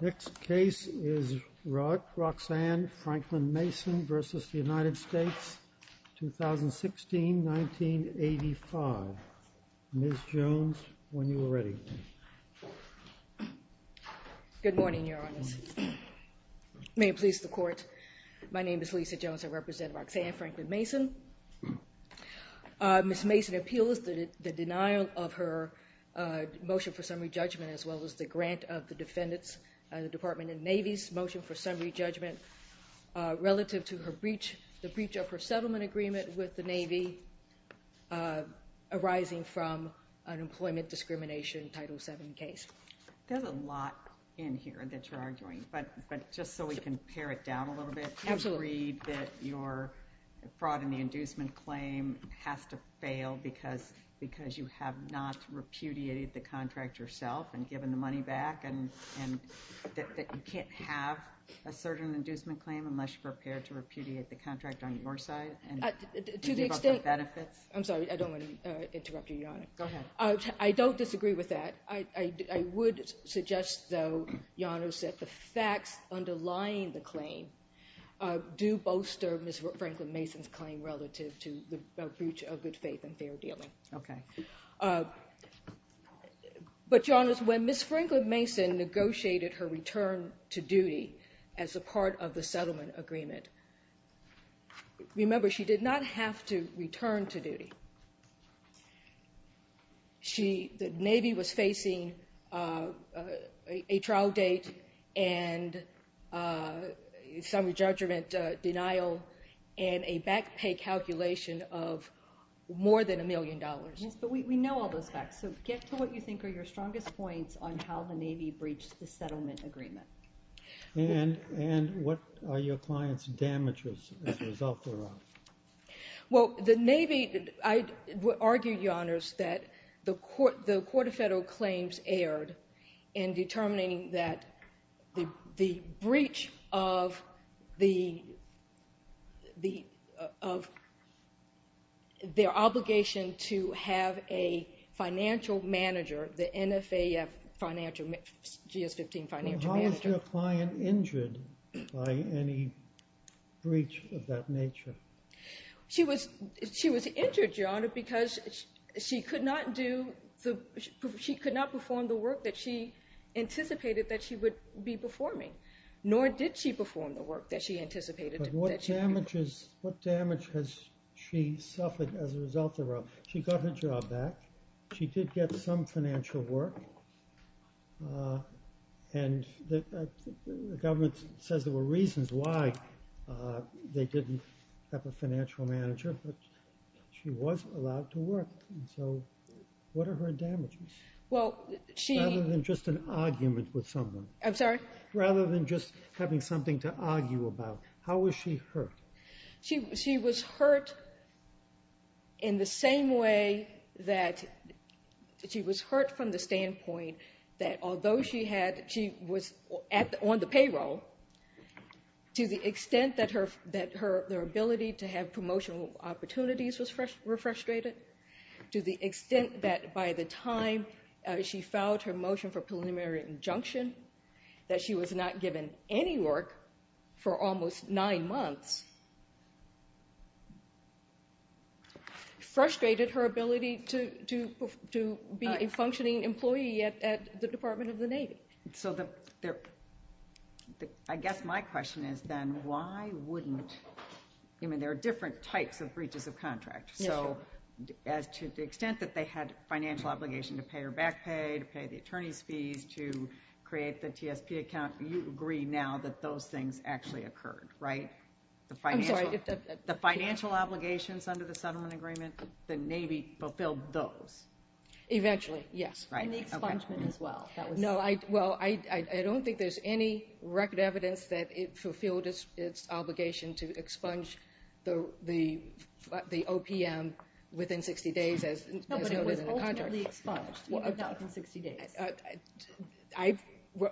Next case is Roxanne Franklin-Mason v. United States, 2016. 1965. Ms. Jones, when you are ready. Good morning, Your Honors. May it please the Court, my name is Lisa Jones. I represent Roxanne Franklin-Mason. Ms. Mason appeals the denial of her motion for summary judgment as well as the grant of the defendant's, the Department of the Navy's motion for summary judgment relative to her breach, the breach of her settlement agreement with the Navy arising from an employment discrimination Title VII case. There's a lot in here that you're arguing, but just so we can pare it down a little bit. Absolutely. You agreed that your fraud in the inducement claim has to fail because you have not repudiated the contract yourself and given the money back and that you can't have a certain inducement claim unless you're prepared to repudiate the contract on your side and give up the benefits? I'm sorry, I don't want to interrupt you, Your Honor. Go ahead. I don't disagree with that. I would suggest, though, Your Honors, that the facts underlying the claim do bolster Ms. Franklin-Mason's claim relative to the breach of good faith and fair dealing. Okay. But, Your Honors, when Ms. Franklin-Mason negotiated her return to duty as a part of the settlement agreement, remember, she did not have to return to duty. The Navy was facing a trial date and summary judgment denial and a back pay calculation of more than a million dollars. Yes, but we know all those facts, so get to what you think are your strongest points on how the Navy breached the settlement agreement. And what are your client's damages as a result, Your Honor? Well, the Navy, I would argue, Your Honors, that the Court of Federal Claims erred in determining that the breach of their obligation to have a financial manager, the NFAF financial, GS-15 financial manager. Was your client injured by any breach of that nature? She was injured, Your Honor, because she could not perform the work that she anticipated that she would be performing, nor did she perform the work that she anticipated. But what damage has she suffered as a result of that? She got her job back. She did get some financial work, and the government says there were reasons why they didn't have a financial manager, but she was allowed to work. So what are her damages? Well, she... Rather than just an argument with someone. I'm sorry? Rather than just having something to argue about. How was she hurt? She was hurt in the same way that she was hurt from the standpoint that although she was on the payroll, to the extent that her ability to have promotional opportunities was frustrated, to the extent that by the time she filed her motion for preliminary injunction, that she was not given any work for almost nine months, frustrated her ability to be a functioning employee at the Department of the Navy. So I guess my question is then, why wouldn't... I mean, there are different types of breaches of contract. So to the extent that they had financial obligation to pay her back pay, to pay the attorney's fees, to create the TSP account, you agree now that those things actually occurred, right? I'm sorry. The financial obligations under the settlement agreement, the Navy fulfilled those. Eventually, yes. Right. And the expungement as well. No. Well, I don't think there's any record evidence that it fulfilled its obligation to expunge the OPM within 60 days as noted in the contract. No, but it was ultimately expunged, not within 60 days. I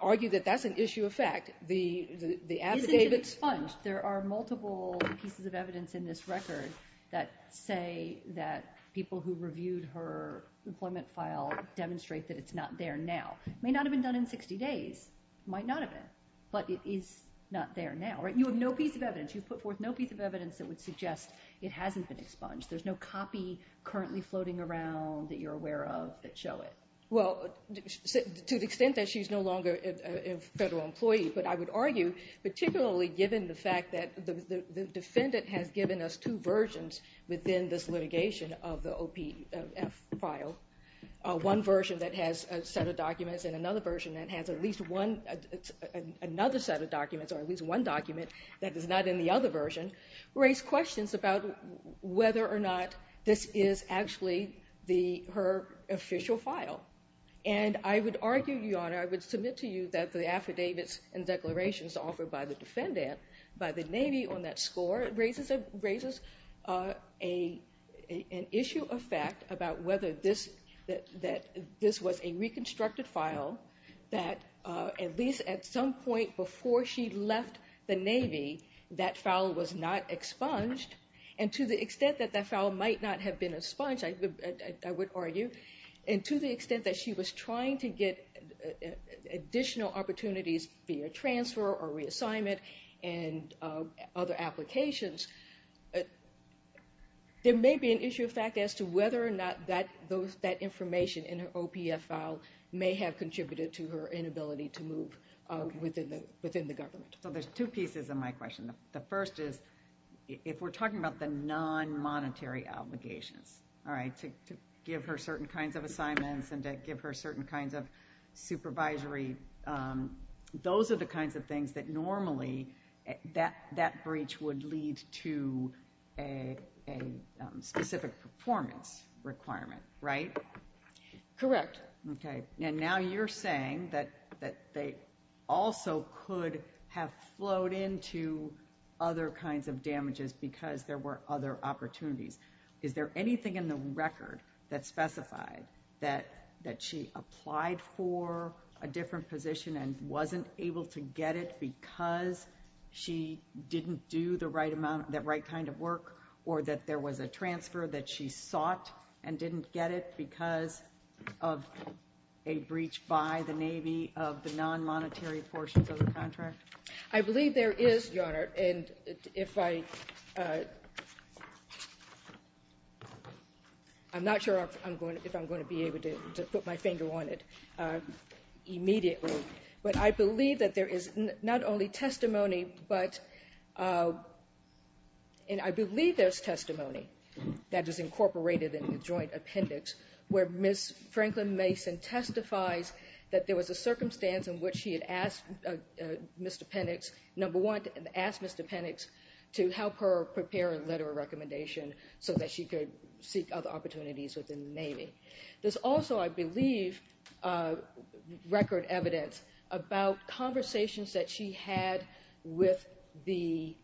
argue that that's an issue of fact. The affidavits... There are multiple pieces of evidence in this record that say that people who reviewed her employment file demonstrate that it's not there now. It may not have been done in 60 days. It might not have been. But it is not there now, right? You have no piece of evidence. You've put forth no piece of evidence that would suggest it hasn't been expunged. There's no copy currently floating around that you're aware of that show it. Well, to the extent that she's no longer a federal employee. But I would argue, particularly given the fact that the defendant has given us two versions within this litigation of the OPF file, one version that has a set of documents and another version that has at least another set of documents, or at least one document that is not in the other version, raise questions about whether or not this is actually her official file. And I would argue, Your Honor, I would submit to you that the affidavits and declarations offered by the defendant by the Navy on that score raises an issue of fact about whether this was a reconstructed file that, at least at some point before she left the Navy, that file was not expunged. And to the extent that that file might not have been expunged, I would argue, and to the extent that she was trying to get additional opportunities via transfer or reassignment and other applications, there may be an issue of fact as to whether or not that information in her OPF file may have contributed to her inability to move within the government. So there's two pieces of my question. The first is, if we're talking about the non-monetary obligations, all right, to give her certain kinds of assignments and to give her certain kinds of supervisory, those are the kinds of things that normally, that breach would lead to a specific performance requirement, right? Correct. Okay. And now you're saying that they also could have flowed into other kinds of damages because there were other opportunities. Is there anything in the record that specified that she applied for a different position and wasn't able to get it because she didn't do that right kind of work or that there was a transfer that she sought and didn't get it because of a breach by the Navy of the non-monetary portions of the contract? I believe there is, Your Honor, and if I'm not sure if I'm going to be able to put my finger on it immediately, but I believe that there is not only testimony, but I believe there's testimony that is incorporated in the joint appendix where Ms. Franklin Mason testifies that there was a circumstance in which she had asked Mr. Penix, number one, asked Mr. Penix to help her prepare a letter of recommendation so that she could seek other opportunities within the Navy. There's also, I believe, record evidence about conversations that she had with the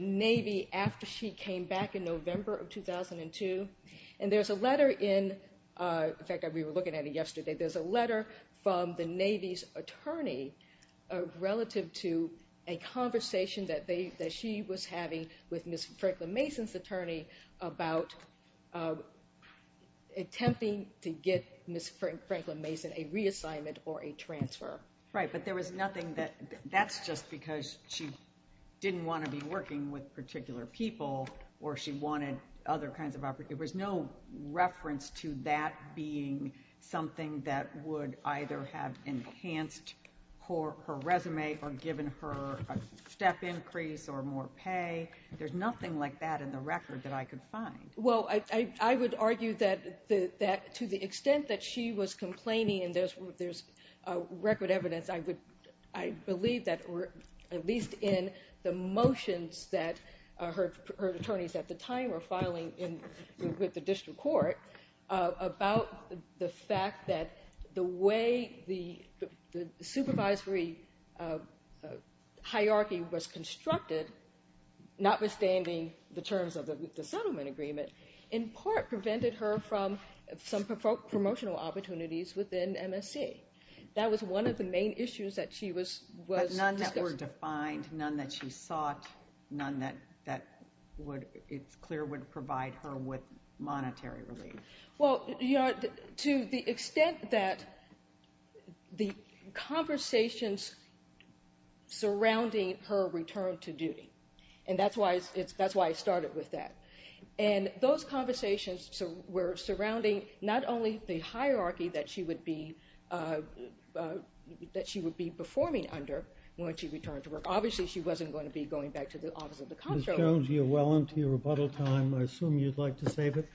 Navy after she came back in November of 2002. And there's a letter in, in fact, we were looking at it yesterday. There's a letter from the Navy's attorney relative to a conversation that she was having with Ms. Franklin Mason's attorney about attempting to get Ms. Franklin Mason a reassignment or a transfer. Right, but there was nothing that, that's just because she didn't want to be working with particular people or she wanted other kinds of opportunities. There was no reference to that being something that would either have enhanced her resume or given her a step increase or more pay. There's nothing like that in the record that I could find. Well, I would argue that to the extent that she was complaining and there's record evidence, I would, I believe that at least in the motions that her attorneys at the time were filing with the district court about the fact that the way the supervisory hierarchy was constructed, notwithstanding the terms of the settlement agreement, in part prevented her from some promotional opportunities within MSC. That was one of the main issues that she was discussing. None that were defined, none that she sought, none that it's clear would provide her with monetary relief. Well, to the extent that the conversations surrounding her return to duty, and that's why I started with that. And those conversations were surrounding not only the hierarchy that she would be performing under when she returned to work. Obviously, she wasn't going to be going back to the office of the comptroller. Ms. Jones, you're well into your rebuttal time. I assume you'd like to save it?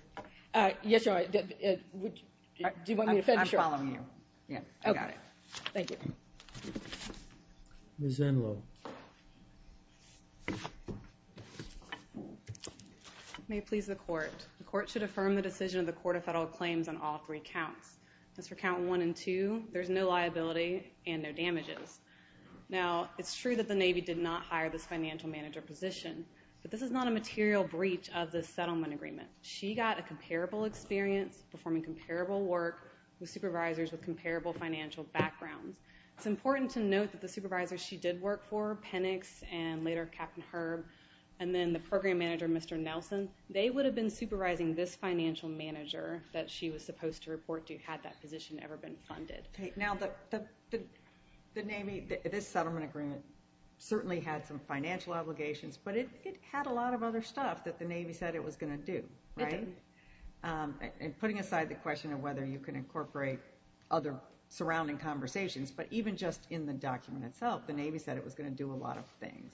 Yes, sir. Do you want me to finish? I'm following you. Yeah, I got it. Thank you. Ms. Enloe. May it please the court. The court should affirm the decision of the Court of Federal Claims on all three counts. As for count one and two, there's no liability and no damages. Now, it's true that the Navy did not hire this financial manager position. But this is not a material breach of the settlement agreement. She got a comparable experience performing comparable work with supervisors with comparable financial backgrounds. It's important to note that the supervisors she did work for, Penix and later Captain Herb, and then the program manager, Mr. Nelson, they would have been supervising this financial manager that she was supposed to report to had that position ever been funded. Now, the Navy, this settlement agreement certainly had some financial obligations, but it had a lot of other stuff that the Navy said it was going to do, right? It did. And putting aside the question of whether you can incorporate other surrounding conversations, but even just in the document itself, the Navy said it was going to do a lot of things.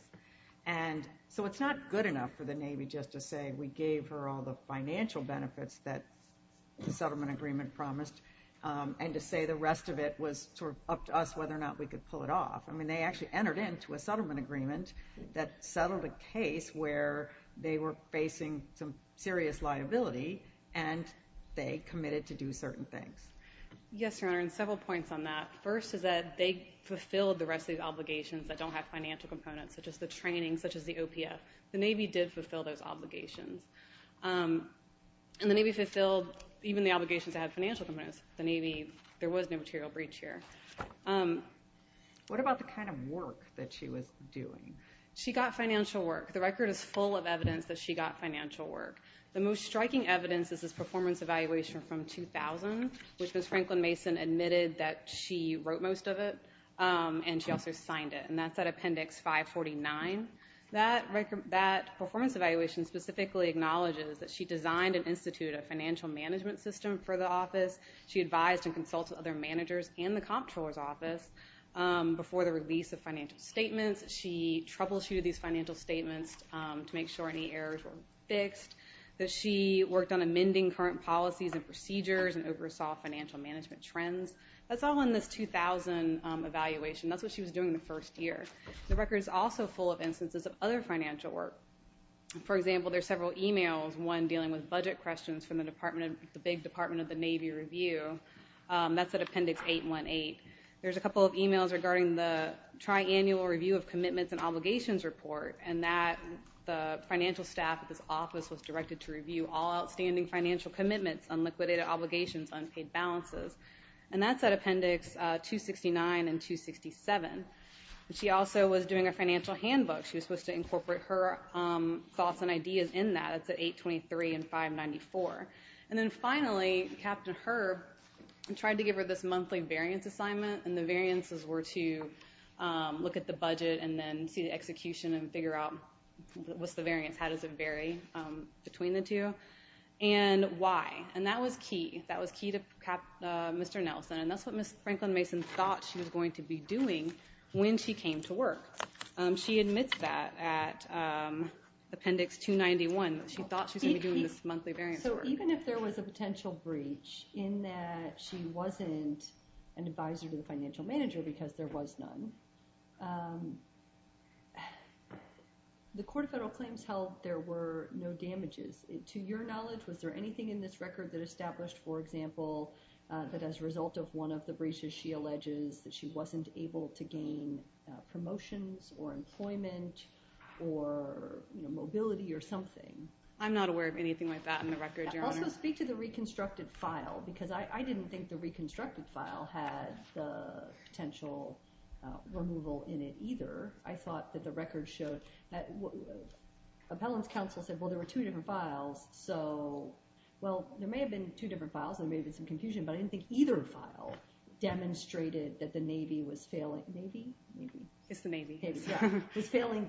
And so it's not good enough for the Navy just to say we gave her all the financial benefits that the settlement agreement promised and to say the rest of it was sort of up to us whether or not we could pull it off. I mean, they actually entered into a settlement agreement that settled a case where they were facing some serious liability, and they committed to do certain things. Yes, Your Honor, and several points on that. First is that they fulfilled the rest of these obligations that don't have financial components, such as the training, such as the OPF. The Navy did fulfill those obligations. And the Navy fulfilled even the obligations that had financial components. The Navy, there was no material breach here. What about the kind of work that she was doing? She got financial work. The record is full of evidence that she got financial work. The most striking evidence is this performance evaluation from 2000, which Ms. Franklin Mason admitted that she wrote most of it, and she also signed it. And that's at Appendix 549. That performance evaluation specifically acknowledges that she designed and instituted a financial management system for the office. She advised and consulted other managers in the comptroller's office before the release of financial statements. She troubleshooted these financial statements to make sure any errors were fixed, that she worked on amending current policies and procedures and oversaw financial management trends. That's all in this 2000 evaluation. That's what she was doing in the first year. The record is also full of instances of other financial work. For example, there's several e-mails, one dealing with budget questions from the big Department of the Navy review. That's at Appendix 818. There's a couple of e-mails regarding the Triannual Review of Commitments and Obligations Report, and that the financial staff at this office was directed to review all outstanding financial commitments, unliquidated obligations, unpaid balances. And that's at Appendix 269 and 267. She also was doing a financial handbook. She was supposed to incorporate her thoughts and ideas in that. It's at 823 and 594. And then finally, Captain Herb tried to give her this monthly variance assignment, and the variances were to look at the budget and then see the execution and figure out what's the variance, how does it vary between the two, and why. And that was key. That was key to Mr. Nelson. And that's what Ms. Franklin-Mason thought she was going to be doing when she came to work. She admits that at Appendix 291. She thought she was going to be doing this monthly variance work. So even if there was a potential breach in that she wasn't an advisor to the financial manager because there was none, the Court of Federal Claims held there were no damages. To your knowledge, was there anything in this record that established, for example, that as a result of one of the breaches she alleges that she wasn't able to gain promotions or employment or mobility or something? I'm not aware of anything like that in the record, Your Honor. Also speak to the reconstructed file because I didn't think the reconstructed file had the potential removal in it either. I thought that the record showed that Appellant's counsel said, well, there were two different files. So, well, there may have been two different files and there may have been some confusion, but I didn't think either file demonstrated that the Navy was failing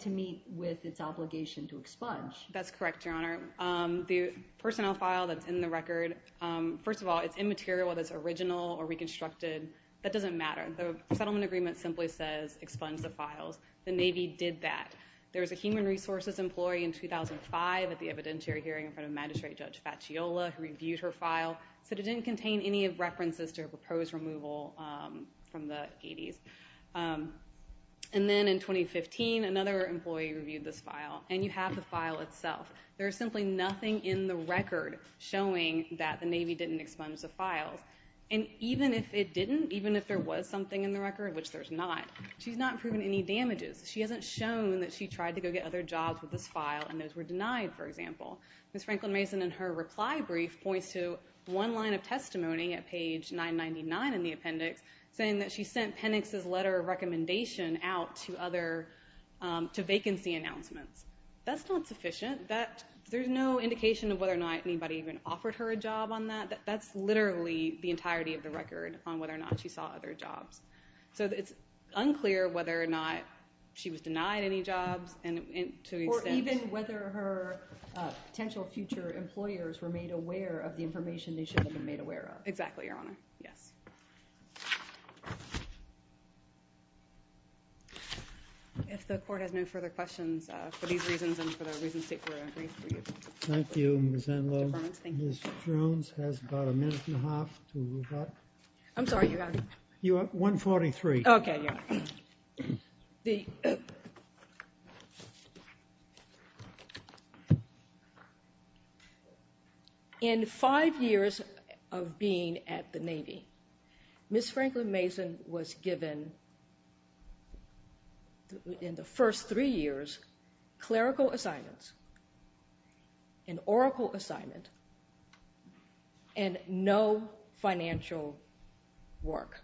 to meet with its obligation to expunge. That's correct, Your Honor. The personnel file that's in the record, first of all, it's immaterial whether it's original or reconstructed. That doesn't matter. The settlement agreement simply says expunge the files. The Navy did that. There was a human resources employee in 2005 at the evidentiary hearing in front of Magistrate Judge Faciola who reviewed her file, said it didn't contain any references to her proposed removal from the 80s. And then in 2015, another employee reviewed this file, and you have the file itself. There is simply nothing in the record showing that the Navy didn't expunge the files. And even if it didn't, even if there was something in the record, which there's not, she's not proven any damages. She hasn't shown that she tried to go get other jobs with this file and those were denied, for example. Ms. Franklin Mason, in her reply brief, points to one line of testimony at page 999 in the appendix, saying that she sent Penix's letter of recommendation out to vacancy announcements. That's not sufficient. There's no indication of whether or not anybody even offered her a job on that. That's literally the entirety of the record on whether or not she saw other jobs. So it's unclear whether or not she was denied any jobs. Or even whether her potential future employers were made aware of the information they should have been made aware of. Exactly, Your Honor. Yes. If the Court has no further questions, for these reasons and for the reasons stated in the brief, we'll move on. Thank you, Ms. Enloe. Ms. Jones has about a minute and a half to move on. I'm sorry, Your Honor. You have 1.43. Okay, Your Honor. In five years of being at the Navy, Ms. Franklin Mason was given, in the first three years, clerical assignments, an oracle assignment, and no financial work.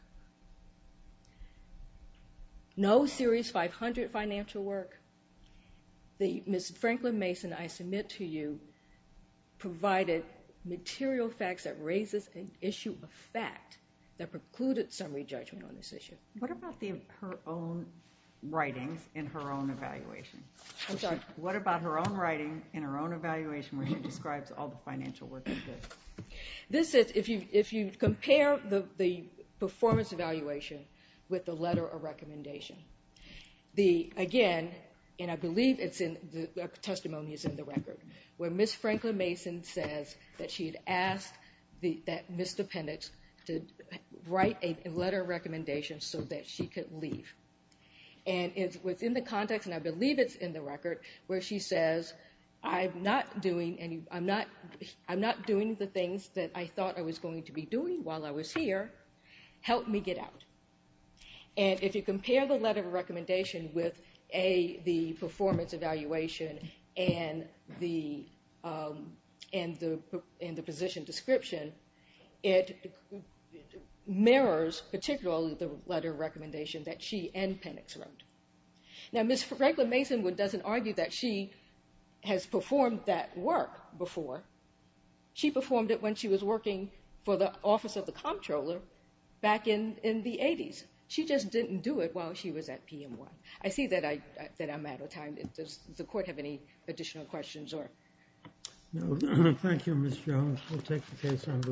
No Series 500 financial work. Ms. Franklin Mason, I submit to you, provided material facts that raises an issue of fact that precluded summary judgment on this issue. What about her own writings and her own evaluation? I'm sorry? What about her own writing and her own evaluation where she describes all the financial work she did? This is, if you compare the performance evaluation with the letter of recommendation. Again, and I believe the testimony is in the record, where Ms. Franklin Mason says that she had asked that Ms. DePendix write a letter of recommendation so that she could leave. It's within the context, and I believe it's in the record, where she says, I'm not doing the things that I thought I was going to be doing while I was here. Help me get out. If you compare the letter of recommendation with the performance evaluation and the position description, it mirrors particularly the letter of recommendation that she and Pendix wrote. Now, Ms. Franklin Mason doesn't argue that she has performed that work before. She performed it when she was working for the office of the comptroller back in the 80s. She just didn't do it while she was at PMY. I see that I'm out of time. Does the court have any additional questions? Thank you, Ms. Jones. We'll take the case under advisement.